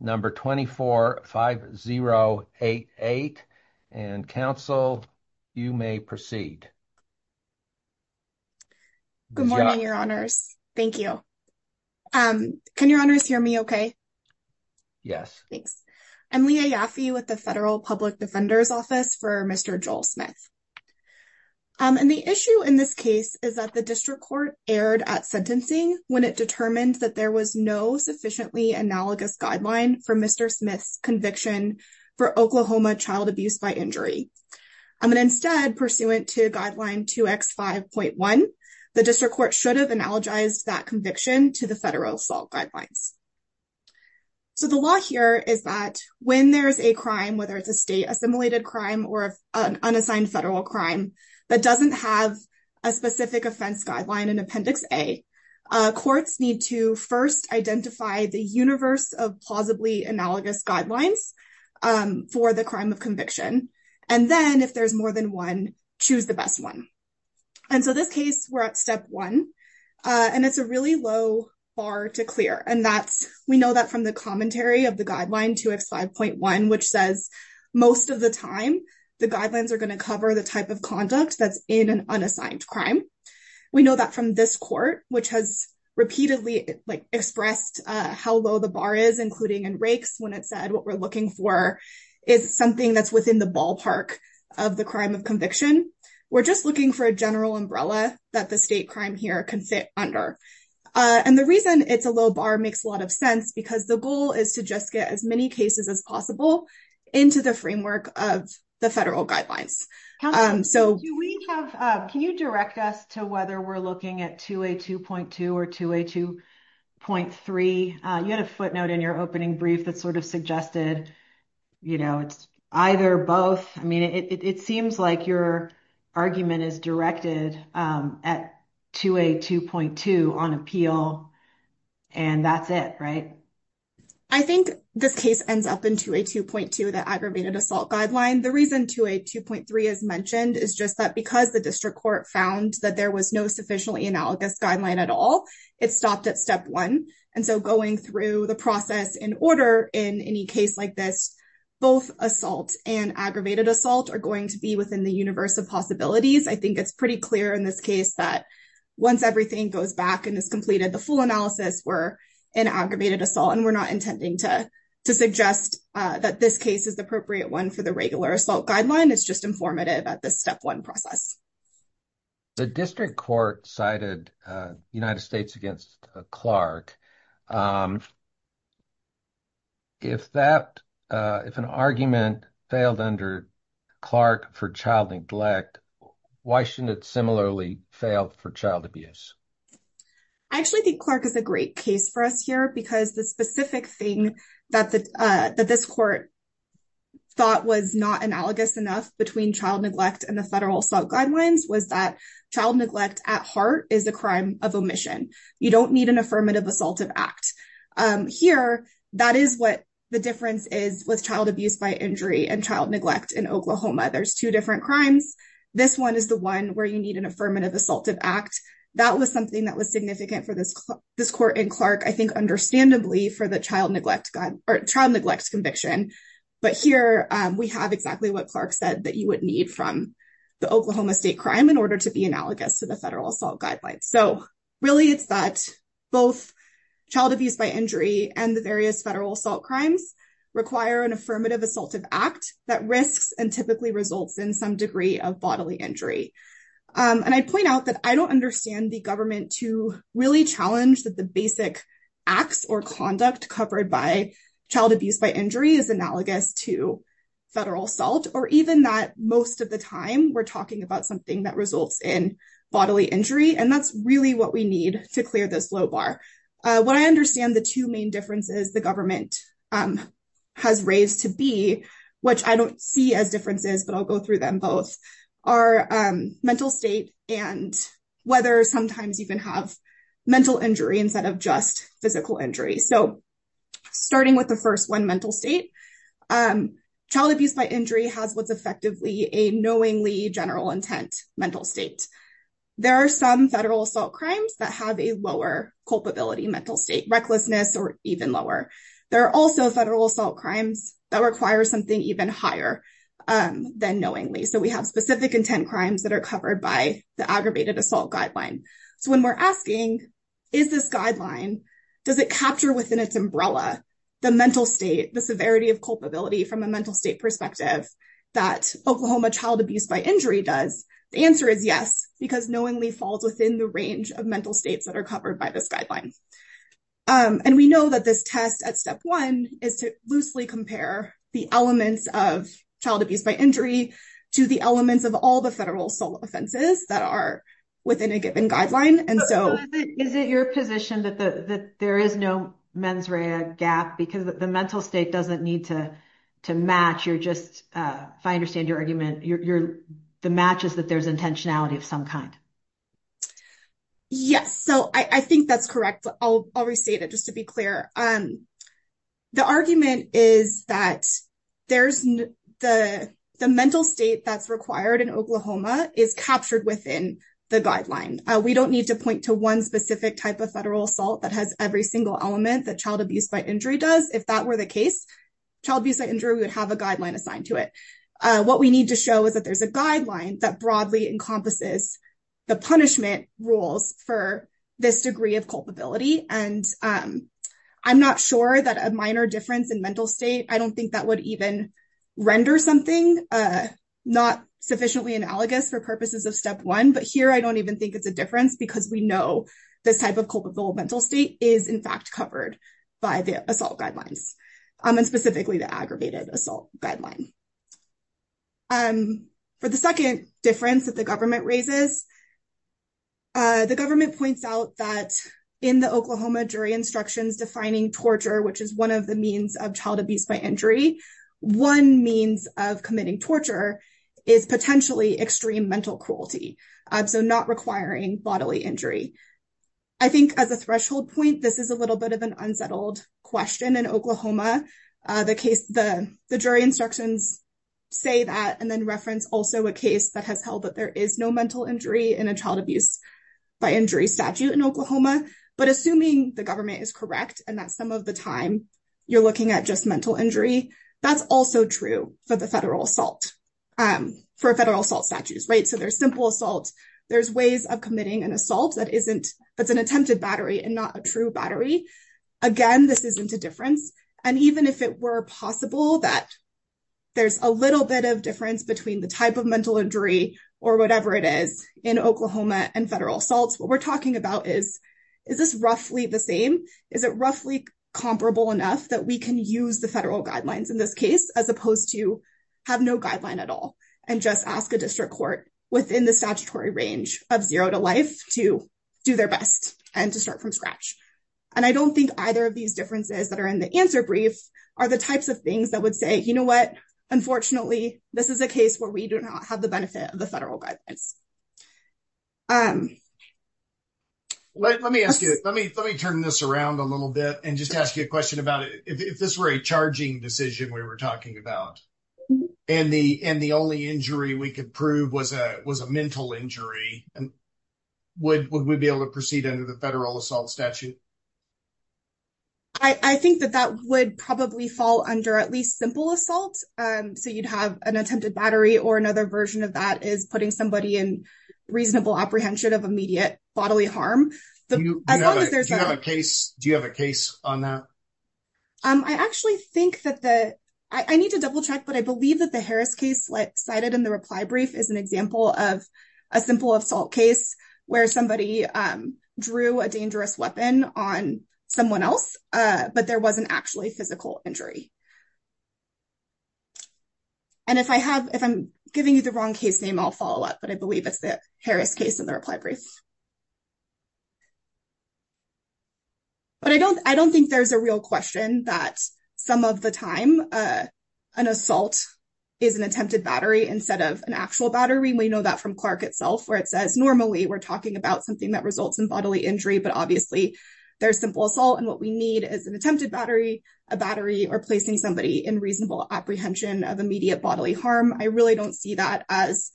number 24-5088 and counsel you may proceed. Good morning your honors. Thank you. Can your honors hear me okay? Yes. Thanks. I'm Leah Yaffe with the Federal Public Defender's Office for Mr. Joel Smith and the issue in this case is that the district court erred at sentencing when it determined that there was no sufficiently analogous guideline for Mr. Smith's conviction for Oklahoma child abuse by injury. I'm going to instead pursuant to guideline 2x5.1 the district court should have analogized that conviction to the federal assault guidelines. So the law here is that when there's a crime whether it's a state assimilated crime or an unassigned federal crime that doesn't have a specific offense guideline in Appendix A courts need to first identify the universe of plausibly analogous guidelines for the crime of conviction and then if there's more than one choose the best one. And so this case we're at step one and it's a really low bar to clear and that's we know that from the commentary of the guideline 2x5.1 which says most of the time the guidelines are going to cover the type of conduct that's in an unassigned crime. We know that from this court which has repeatedly like expressed how low the bar is including in rakes when it said what we're looking for is something that's within the ballpark of the crime of conviction. We're just looking for a general umbrella that the state crime here can fit under and the reason it's a low bar makes a lot of sense because the goal is to just get as many cases as possible into the framework of the federal guidelines. Can you direct us to whether we're looking at 2A2.2 or 2A2.3? You had a footnote in your opening brief that sort of suggested you know it's either both I mean it seems like your argument is directed at 2A2.2 on appeal and that's it right? I think this case ends up into a 2.2 the aggravated assault guideline. The reason 2A2.3 is mentioned is just that because the district court found that there was no sufficiently analogous guideline at all it stopped at step one and so going through the process in order in any case like this both assault and aggravated assault are going to be within the universe of possibilities. I think it's pretty clear in this case that once everything goes back and is the full analysis we're in aggravated assault and we're not intending to to suggest that this case is the appropriate one for the regular assault guideline it's just informative at this step one process. The district court cited United States against Clark if that if an argument failed under Clark for child neglect why shouldn't it similarly fail for child abuse? I actually think Clark is a great case for us here because the specific thing that the this court thought was not analogous enough between child neglect and the federal assault guidelines was that child neglect at heart is a crime of omission. You don't need an affirmative assaultive act. Here that is what the difference is with child abuse by injury and child neglect in Oklahoma. There's two different crimes. This one is the one where you need an affirmative assaultive act. That was something that was significant for this this court in Clark I think understandably for the child neglect or child neglect conviction but here we have exactly what Clark said that you would need from the Oklahoma state crime in order to be analogous to the federal assault guidelines. So really it's that both child abuse by injury and the various federal assault crimes require an affirmative assaultive act that risks and typically results in some degree of bodily injury. And I point out that I don't understand the government to really challenge that the basic acts or conduct covered by child abuse by injury is analogous to federal assault or even that most of the time we're talking about something that results in bodily injury and that's really what we need to clear this low bar. What I understand the two main differences the government has raised to be which I don't see as differences but I'll go through them both are mental state and whether sometimes you can have mental injury instead of just physical injury. So starting with the first one mental state child abuse by injury has what's effectively a knowingly general intent mental state. There are some federal assault crimes that have a lower culpability mental state recklessness or even lower. There are also federal assault crimes that require something even higher than knowingly. So we have specific intent crimes that are covered by the aggravated assault guideline. So when we're asking is this guideline does it capture within its umbrella the mental state the severity of culpability from a mental state perspective that Oklahoma child abuse by injury does the answer is yes because knowingly falls within the range of mental states that are covered by this guideline. And we know that this test at step one is to loosely compare the elements of child abuse by injury to the elements of all the federal assault offenses that are within a given guideline. And so is it your position that there is no mens rea gap because the mental state doesn't need to to match you're just if I understand your argument you're the match is that there's intentionality of some kind. Yes, so I think that's correct. I'll restate it just to be clear. The argument is that there's the mental state that's required in Oklahoma is captured within the guideline. We don't need to point to one specific type of federal assault that has every single element that child abuse by injury does if that were the case, child abuse by injury would have a guideline assigned to it. What we need to show is that there's a guideline that broadly encompasses the punishment rules for this degree of culpability. And I'm not sure that a minor difference in mental state, I don't think that would even render something not sufficiently analogous for purposes of step one. But here, I don't even think it's a difference because we know this type of culpable mental state is in fact covered by the assault guidelines, and specifically the aggravated assault guideline. For the second difference that the government raises, the government points out that in the Oklahoma jury instructions defining torture, which is one of the means of child abuse by injury, one means of committing torture is potentially extreme mental cruelty. So not requiring bodily injury. I think as a threshold point, this is a little bit of an unsettled question in Oklahoma. The case the jury instructions say that and then reference also a case that has held that there is no mental injury in a child abuse by injury statute in Oklahoma. But assuming the government is correct, and that some of the time, you're looking at just mental injury, that's also true for the federal assault, for federal assault statutes, right? So there's simple assault, there's ways of committing an assault that isn't, that's an attempted battery and not a true battery. Again, this isn't a difference. And even if it were possible that there's a little bit of difference between the type of mental injury, or whatever it is, in Oklahoma and federal assaults, what we're talking about is, is this roughly the same? Is it roughly comparable enough that we can use the federal guidelines in this case, as opposed to have no guideline at all, and just ask a district court within the statutory range of zero to life to do their best and to start from scratch? And I don't think either of these differences that are in the answer brief, are the types of things that would say, you know what, unfortunately, this is a case where we do not have the benefit of the federal guidance. Let me ask you, let me let me turn this around a little bit and just ask you a question about it. If this were a charging decision we were talking about, and the and the only injury we could prove was a was a mental injury, and would we be able to proceed under the federal assault statute? I think that that would probably fall under at least simple assault. So you'd have an attempted battery or another version of that is putting somebody in reasonable apprehension of immediate bodily harm. Do you have a case on that? I actually think that the I need to double check, but I believe that the Harris case like cited in the reply brief is an example of a simple assault case where somebody drew a dangerous weapon on someone else, but there wasn't actually physical injury. And if I have if I'm giving you the wrong case name, I'll follow up, but I believe it's the Harris case in the reply brief. But I don't I don't think there's a real question that some of the time an assault is an attempted battery instead of an actual battery. We know that from Clark itself, where it says normally we're talking about something that results in bodily injury, but obviously, there's simple assault and what we need is an attempted battery, a battery or placing somebody in reasonable apprehension of immediate bodily harm. I really don't see that as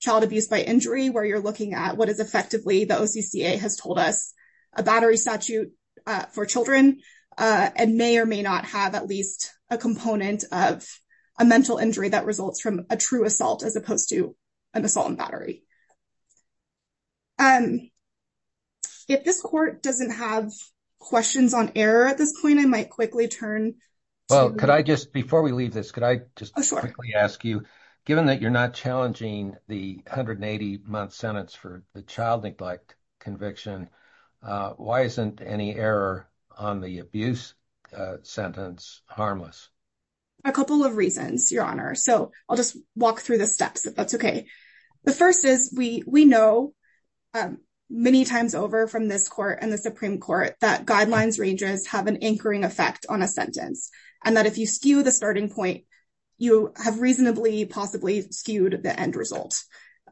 child abuse by injury where you're looking at what is effectively the OCCA has told us a battery statute for children and may or may not have at least a component of a mental injury that results from a true assault as opposed to an assault and battery. If this court doesn't have questions on error at this point, I might quickly turn. Well, could I just before we leave this, could I just ask you, given that you're not challenging the hundred and eighty month sentence for the child neglect conviction, why isn't any error on the abuse sentence harmless? A couple of reasons, Your Honor. So I'll just walk through the steps, if that's OK. The first is we we know many times over from this court and the Supreme Court that guidelines ranges have an anchoring effect on a sentence and that if you skew the starting point, you have reasonably possibly skewed the end result.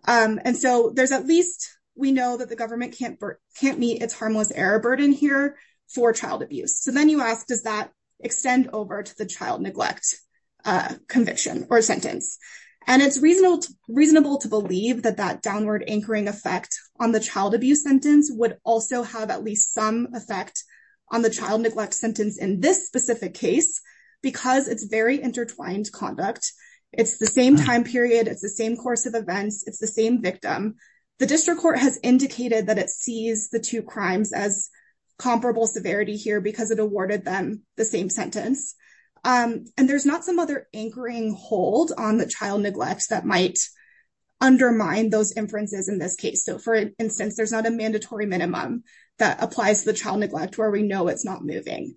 And so there's at least we know that the government can't can't meet its harmless error burden here for child abuse. So then you ask, does that extend over to the child neglect conviction or sentence? And it's reasonable, reasonable to believe that that downward anchoring effect on the child abuse sentence would also have at least some on the child neglect sentence in this specific case because it's very intertwined conduct. It's the same time period. It's the same course of events. It's the same victim. The district court has indicated that it sees the two crimes as comparable severity here because it awarded them the same sentence. And there's not some other anchoring hold on the child neglect that might undermine those inferences in this case. So for instance, there's not a mandatory minimum that applies to the child neglect where we know it's not moving.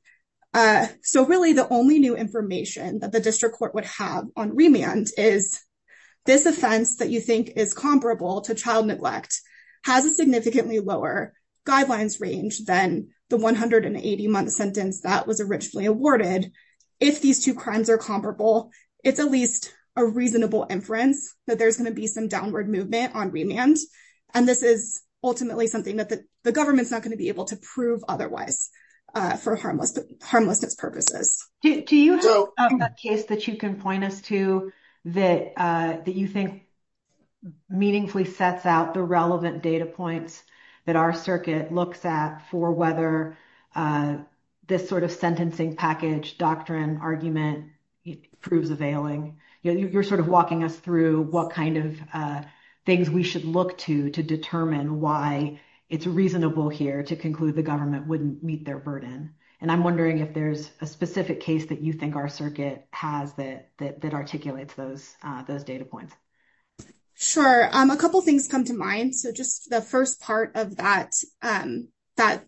So really, the only new information that the district court would have on remand is this offense that you think is comparable to child neglect has a significantly lower guidelines range than the 180 month sentence that was originally awarded. If these two crimes are comparable, it's at least a reasonable inference that there's going to be some downward movement on remand. And this is ultimately something that the government's not going to be able to prove otherwise for harmlessness purposes. Do you have a case that you can point us to that you think meaningfully sets out the relevant data points that our circuit looks at for whether this sort of sentencing package doctrine argument proves availing? You're sort of walking us through what kind of things we should look to to determine why it's reasonable here to conclude the government wouldn't meet their burden. And I'm wondering if there's a specific case that you think our circuit has that articulates those data points. Sure. A couple of things come to mind. So just the first part of that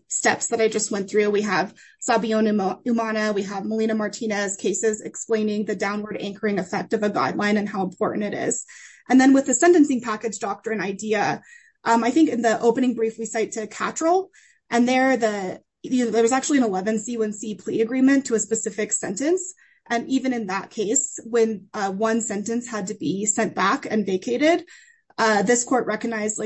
steps that I just went through, we have Sabiona Umana, we have Melina Martinez cases explaining the downward anchoring effect of a guideline and how important it is. And then with the sentencing package doctrine idea, I think in the opening brief we cite to Cattrall, and there was actually an 11C1C plea agreement to a specific sentence. And even in that case, when one sentence had to be sent back and vacated, this court recognized,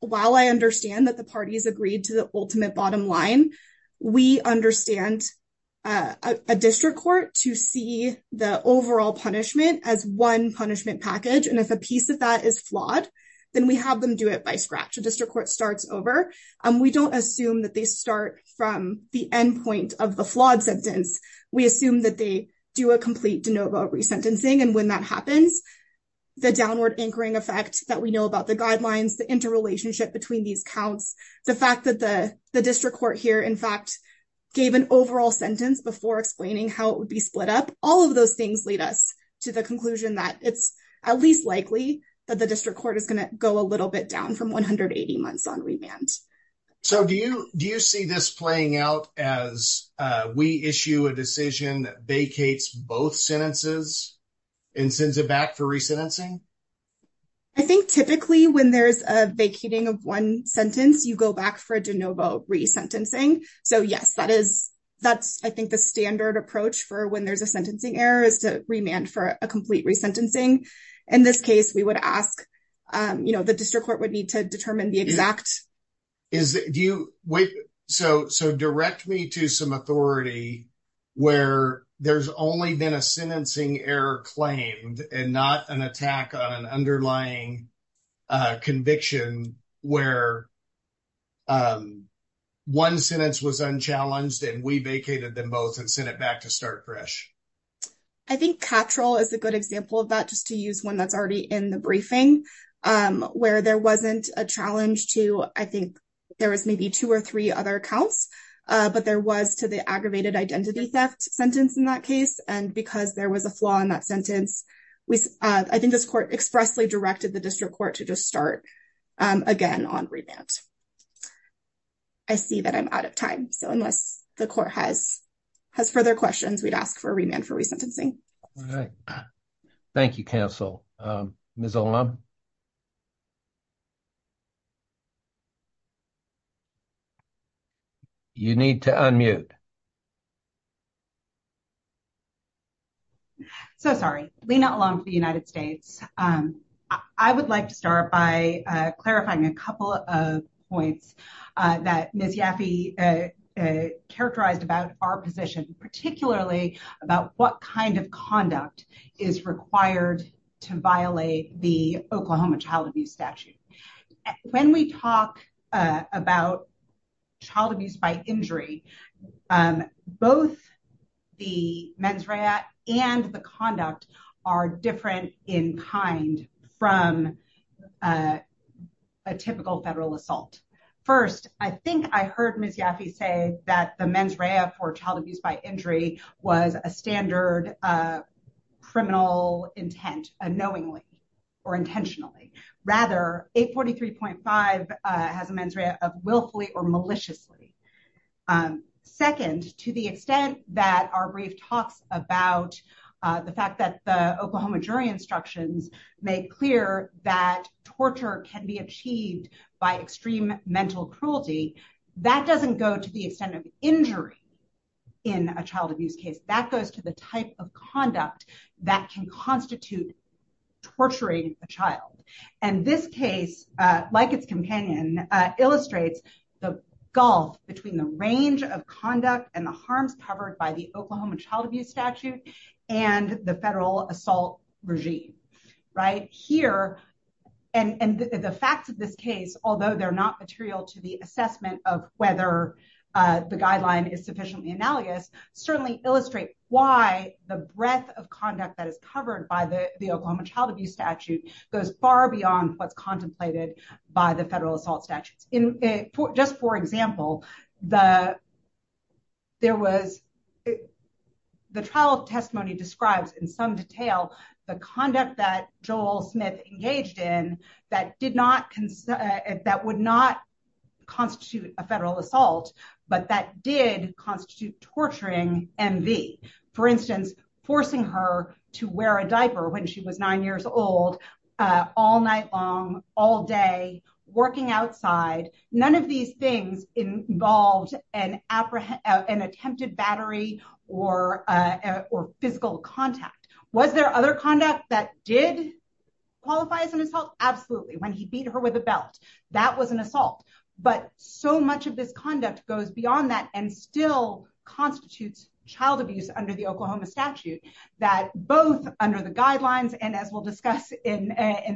while I understand that the parties agreed to the ultimate bottom line, we understand a district court to see the overall punishment as one punishment package. And if a piece of that is flawed, then we have them do it by scratch. A district court starts over. We don't assume that they start from the endpoint of the flawed sentence. We assume that they do a complete de novo resentencing. And when that happens, the downward anchoring effect that we know about the interrelationship between these counts, the fact that the district court here, in fact, gave an overall sentence before explaining how it would be split up, all of those things lead us to the conclusion that it's at least likely that the district court is going to go a little bit down from 180 months on remand. So do you see this playing out as we issue a decision that vacates both sentences and sends it back for resentencing? I think typically when there's a vacating of one sentence, you go back for de novo resentencing. So, yes, that's, I think, the standard approach for when there's a sentencing error is to remand for a complete resentencing. In this case, we would ask, you know, the district court would need to determine the exact... Is it, do you, wait, so direct me to some authority where there's only been a sentencing error claimed and not an attack on an underlying conviction where one sentence was unchallenged and we vacated them both and sent it back to start fresh? I think catchall is a good example of that, just to use one that's already in the briefing, where there wasn't a challenge to, I think there was maybe two or three other accounts, but there was to the aggravated identity theft sentence in that case. And because there was a flaw in that sentence, I think this court expressly directed the district court to just start again on remand. I see that I'm out of time. So, unless the court has further questions, we'd ask for a remand for resentencing. All right. Thank you, counsel. Ms. Olam? You need to unmute. I'm so sorry. Lena Olam for the United States. I would like to start by clarifying a couple of points that Ms. Yaffe characterized about our position, particularly about what kind of conduct is required to violate the Oklahoma child abuse statute. When we talk about child abuse by injury, both the mens rea and the conduct are different in kind from a typical federal assault. First, I think I heard Ms. Yaffe say that the mens rea for child abuse by injury was a standard criminal intent unknowingly or intentionally. Rather, 843.5 has a mens rea of willfully or maliciously. Second, to the extent that our brief talks about the fact that the Oklahoma jury instructions make clear that torture can be achieved by extreme mental cruelty, that doesn't go to the extent of injury in a child abuse case. That goes to the type of conduct that can constitute torturing a child. And this case, like its companion, illustrates the gulf between the range of conduct and the harms covered by the Oklahoma child abuse statute and the federal assault regime, right? Here, and the facts of this case, although they're not material to the assessment of whether the guideline is sufficiently analogous, certainly illustrate why the breadth of conduct that is covered by the Oklahoma child abuse statute goes far beyond what's contemplated by the federal assault statutes. Just for example, the trial testimony describes in some detail the conduct that Joel Smith engaged in that would not constitute a federal assault, but that did constitute torturing MV. For instance, forcing her to wear a diaper when she was nine years old, all night long, all day, working outside. None of these things involved an attempted battery or physical contact. Was there other conduct that did qualify as an assault? When he beat her with a belt, that was an assault. But so much of this conduct goes beyond that and still constitutes child abuse under the Oklahoma statute, that both under the guidelines and as we'll discuss in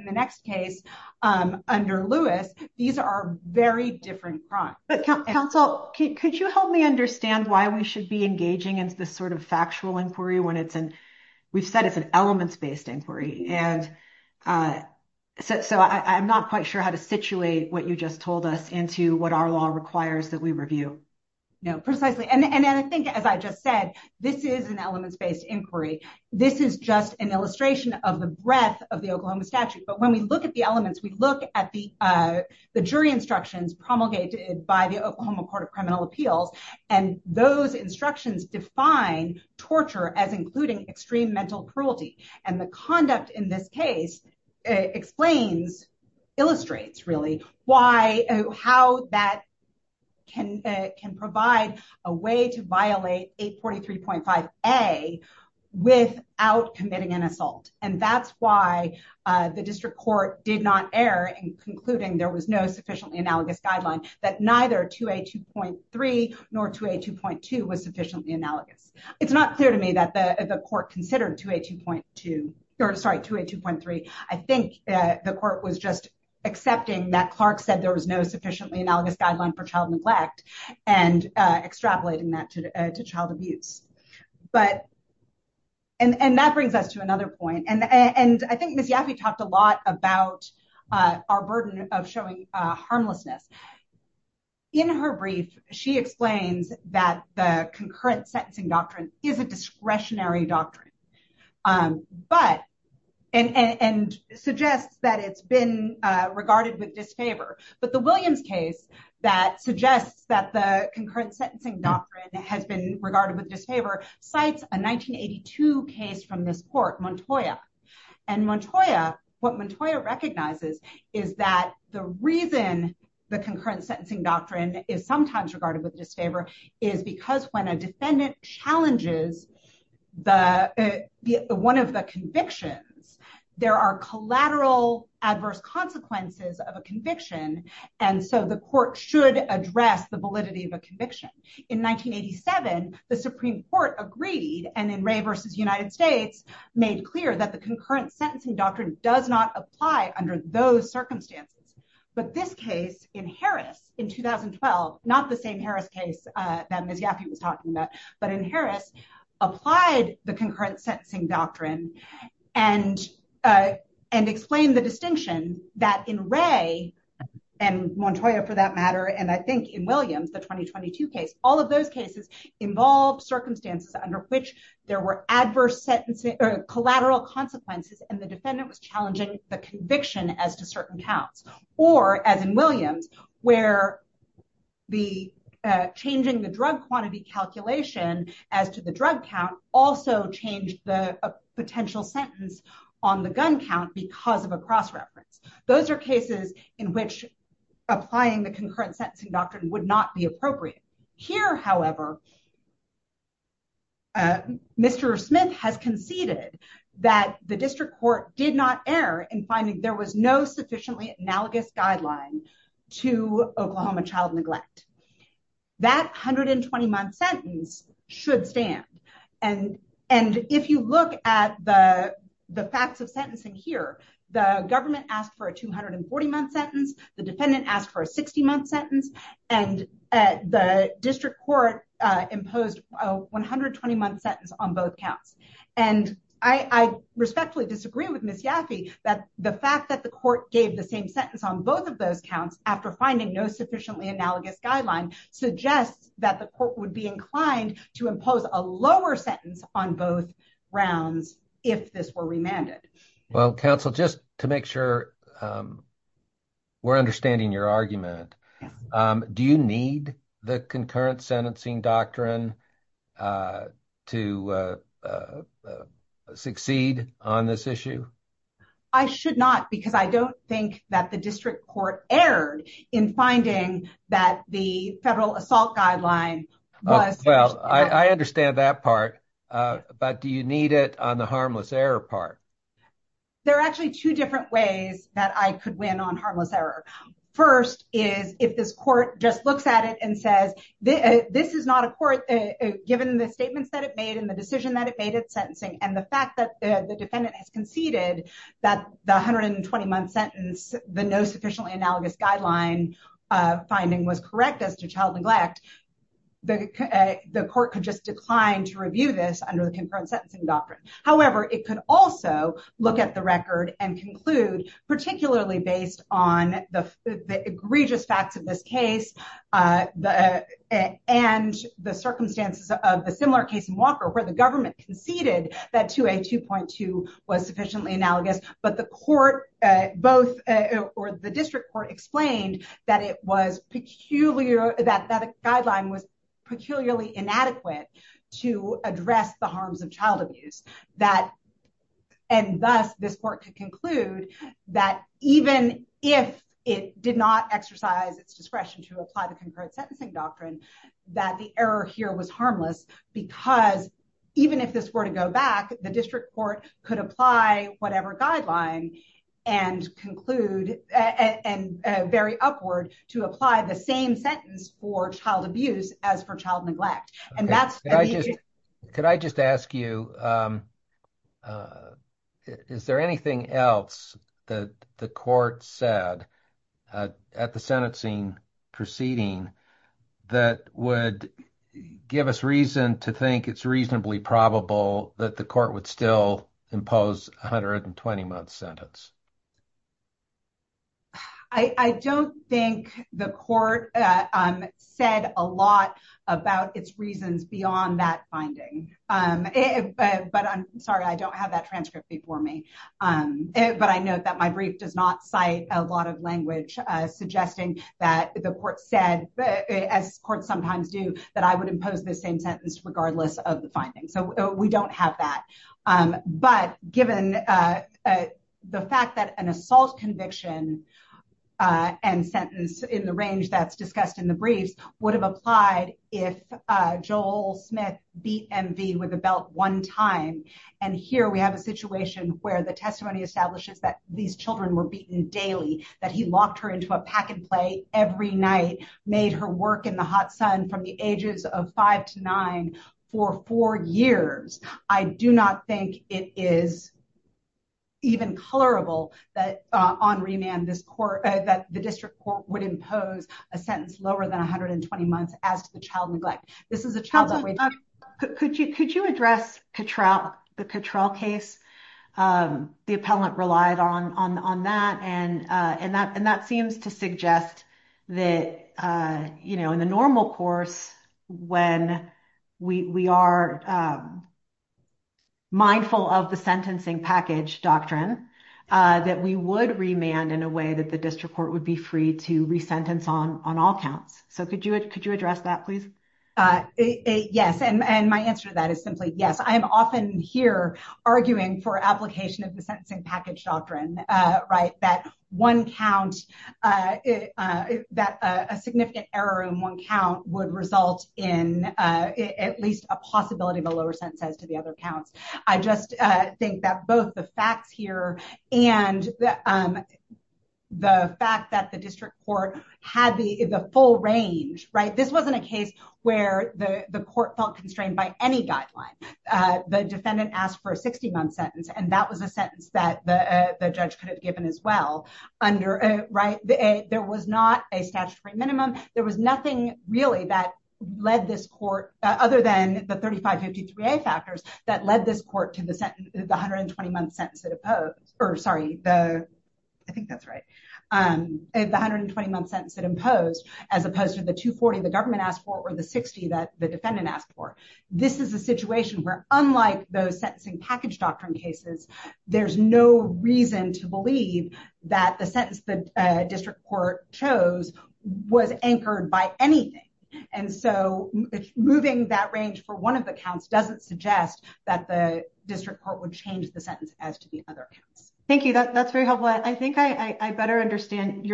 the next case under Lewis, these are very different crimes. But counsel, could you help me understand why we should be engaging into this sort of elements-based inquiry? So I'm not quite sure how to situate what you just told us into what our law requires that we review. No, precisely. And I think, as I just said, this is an elements-based inquiry. This is just an illustration of the breadth of the Oklahoma statute. But when we look at the elements, we look at the jury instructions promulgated by the Oklahoma Court of Criminal Appeals, and those instructions define torture as including extreme mental cruelty. And the conduct in this case illustrates, really, how that can provide a way to violate 843.5A without committing an assault. And that's why the district court did not err in concluding there was no sufficiently analogous guideline, that neither 2A2.3 nor 2A2.2 was sufficiently analogous. It's not clear to me that the court considered 2A2.2, or sorry, 2A2.3. I think the court was just accepting that Clark said there was no sufficiently analogous guideline for child neglect and extrapolating that to child abuse. And that brings us to another point. And I think Ms. Yaffe talked a lot about our burden of showing harmlessness. In her brief, she explains that the concurrent sentencing doctrine is a discretionary doctrine, but, and suggests that it's been regarded with disfavor. But the Williams case that suggests that the concurrent sentencing doctrine has been regarded with disfavor, cites a 1982 case from this court, Montoya. And Montoya, what Montoya recognizes is that the reason the concurrent sentencing doctrine is sometimes regarded with disfavor is because when a defendant challenges one of the convictions, there are collateral adverse consequences of a conviction. And so the court should address the validity of a conviction. In 1987, the Supreme Court agreed, and in Wray versus United States, made clear that the concurrent sentencing doctrine does not apply under those circumstances. But this case in Harris in 2012, not the same Harris case that Ms. Yaffe was talking about, but in Harris, applied the concurrent sentencing doctrine and explained the distinction that in and Montoya for that matter, and I think in Williams, the 2022 case, all of those cases involve circumstances under which there were adverse sentences or collateral consequences. And the defendant was challenging the conviction as to certain counts, or as in Williams, where the changing the drug quantity calculation as to the drug count also changed the potential sentence on the gun count because of a cross reference. Those are cases in which applying the concurrent sentencing doctrine would not be appropriate. Here, however, Mr. Smith has conceded that the district court did not err in finding there was no sufficiently analogous guideline to Oklahoma child neglect. That 120-month sentence should stand. And if you look at the facts of sentencing here, the government asked for a 240-month sentence, the defendant asked for a 60-month sentence, and the district court imposed a 120-month sentence on both counts. And I respectfully disagree with Ms. Yaffe that the fact that the court gave the same sentence on both of those counts after finding no sufficiently analogous guideline suggests that the court would be inclined to impose a lower sentence on both rounds if this were remanded. Well, counsel, just to make sure we're understanding your argument, do you need the concurrent sentencing doctrine to succeed on this issue? I should not because I don't think that the district court erred in finding that the federal assault guideline was... Well, I understand that part, but do you need it on the harmless error part? There are actually two different ways that I could win on harmless error. First is if this court just looks at it and says, this is not a court, given the statements that it made and the decision that it made at sentencing, and the fact that the defendant has conceded that the 120-month sentence, the no sufficiently analogous guideline finding was correct as to child neglect, the court could just decline to review this under the concurrent sentencing doctrine. However, it could also look at the record and conclude, particularly based on the egregious facts of this case and the circumstances of the similar case in Walker where the government conceded that 2A.2.2 was sufficiently analogous, but the district court explained that the guideline was peculiarly inadequate to address the harms of child abuse. And thus, this court could conclude that even if it did not exercise its discretion to apply the concurrent sentencing doctrine, that the error here was harmless because even if this were to go back, the district court could apply whatever guideline and conclude and very upward to apply the same sentence for child abuse as for child neglect. Could I just ask you, is there anything else that the court said at the sentencing proceeding that would give us reason to think it's reasonably probable that the court would still impose a 120-month sentence? I don't think the court said a lot about its reasons beyond that finding. But I'm sorry, I don't have that transcript before me. But I know that my brief does not cite a lot of language suggesting that the court said, as courts sometimes do, that I would impose the same sentence regardless of the findings. So we don't have that. But given the fact that an assault conviction and sentence in the range that's discussed in the briefs would have applied if Joel Smith beat MV with a belt one time, and here we have a where the testimony establishes that these children were beaten daily, that he locked her into a pack and play every night, made her work in the hot sun from the ages of five to nine for four years, I do not think it is even colorable that on remand that the district court would impose a sentence lower than 120 months as to the child neglect. This is a child control case. The appellant relied on that. And that seems to suggest that in the normal course, when we are mindful of the sentencing package doctrine, that we would remand in a way that the district court would be free to resentence on all counts. So could you address that, please? Yes. And my answer to that is simply yes. I am often here arguing for application of the sentencing package doctrine, right, that one count, that a significant error in one count would result in at least a possibility of a lower sentence as to the other counts. I just think that both the facts here and the fact that the district court had the full range, this wasn't a case where the court felt constrained by any guideline. The defendant asked for a 60-month sentence, and that was a sentence that the judge could have given as well. There was not a statutory minimum. There was nothing really that led this court, other than the 3553A factors, that led this court to the 120-month sentence that imposed, as opposed to the 240 the government asked for or the 60 that the defendant asked for. This is a situation where, unlike those sentencing package doctrine cases, there's no reason to believe that the sentence the district court chose was anchored by anything. And so moving that range for one of the counts doesn't suggest that the district court would change the sentence as to the other counts. Thank you. That's very helpful. I think I better tell me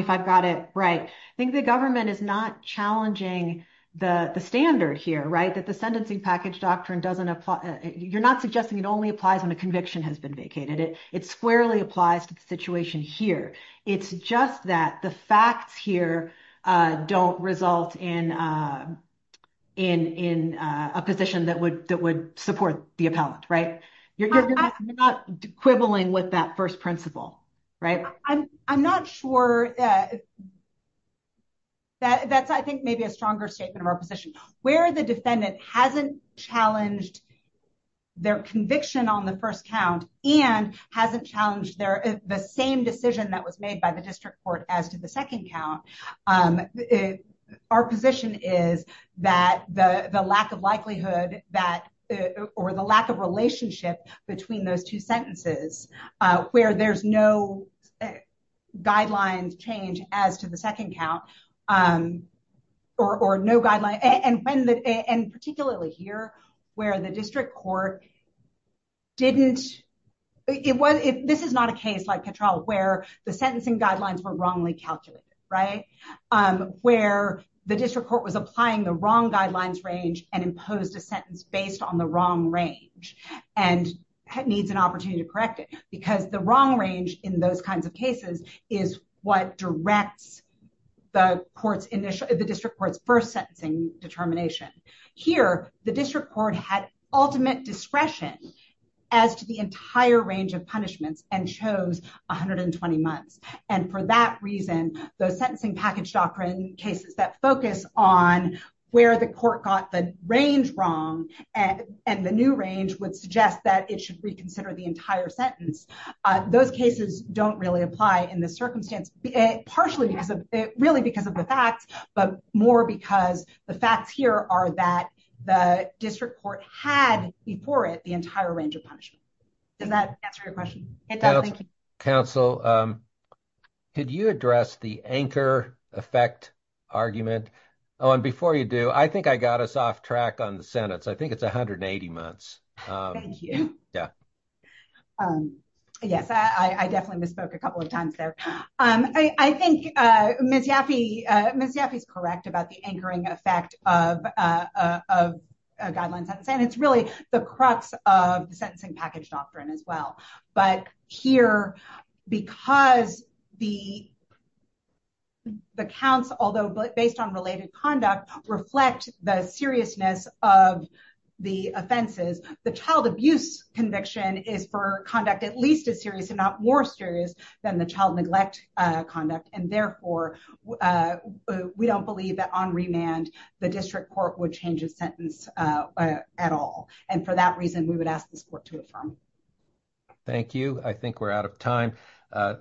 if I've got it right. I think the government is not challenging the standard here, right? That the sentencing package doctrine doesn't apply. You're not suggesting it only applies when a conviction has been vacated. It squarely applies to the situation here. It's just that the facts here don't result in a position that would support the appellant, right? You're not quibbling with that first principle, right? I'm not sure. That's, I think, maybe a stronger statement of our position. Where the defendant hasn't challenged their conviction on the first count and hasn't challenged the same decision that was made by the district court as to the second count, our position is that the lack of likelihood that, or the lack of relationship between those two sentences, where there's no guidelines change as to the second count, or no guidelines. And particularly here, where the district court didn't, this is not a case like Petrel, where the sentencing guidelines were wrongly calculated, right? Where the district court was applying the wrong guidelines range and posed a sentence based on the wrong range and needs an opportunity to correct it. Because the wrong range in those kinds of cases is what directs the district court's first sentencing determination. Here, the district court had ultimate discretion as to the entire range of punishments and chose 120 months. And for that reason, those sentencing package doctrine cases that focus on where the court got the range wrong and the new range would suggest that it should reconsider the entire sentence. Those cases don't really apply in this circumstance, partially because of, really because of the facts, but more because the facts here are that the district court had before it the entire range of punishment. Does that answer your question? It does. Thank you. Counsel, could you address the anchor effect argument? Oh, and before you do, I think I got us off track on the sentence. I think it's 180 months. Thank you. Yeah. Yes, I definitely misspoke a couple of times there. I think Ms. Yaffe is correct about the anchoring effect of a guideline sentence, and it's really the crux of the sentencing package doctrine as well. But here, because the counts, although based on related conduct, reflect the seriousness of the offenses, the child abuse conviction is for conduct at least as serious and not more serious than the child neglect conduct. And therefore, we don't believe that on remand, the district court would change a sentence at all. And for that reason, we would ask this court to affirm. Thank you. I think we're out of time.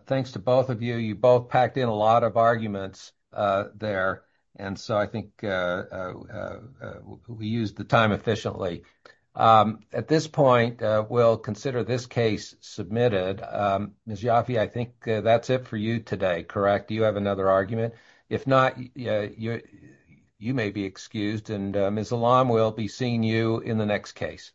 Thanks to both of you. You both packed in a lot of arguments there. And so I think we used the time efficiently. At this point, we'll consider this case submitted. Ms. Yaffe, I think that's it for you today, correct? Do you have another argument? If not, you may be excused. And Ms. Alam, we'll be seeing you in the next case.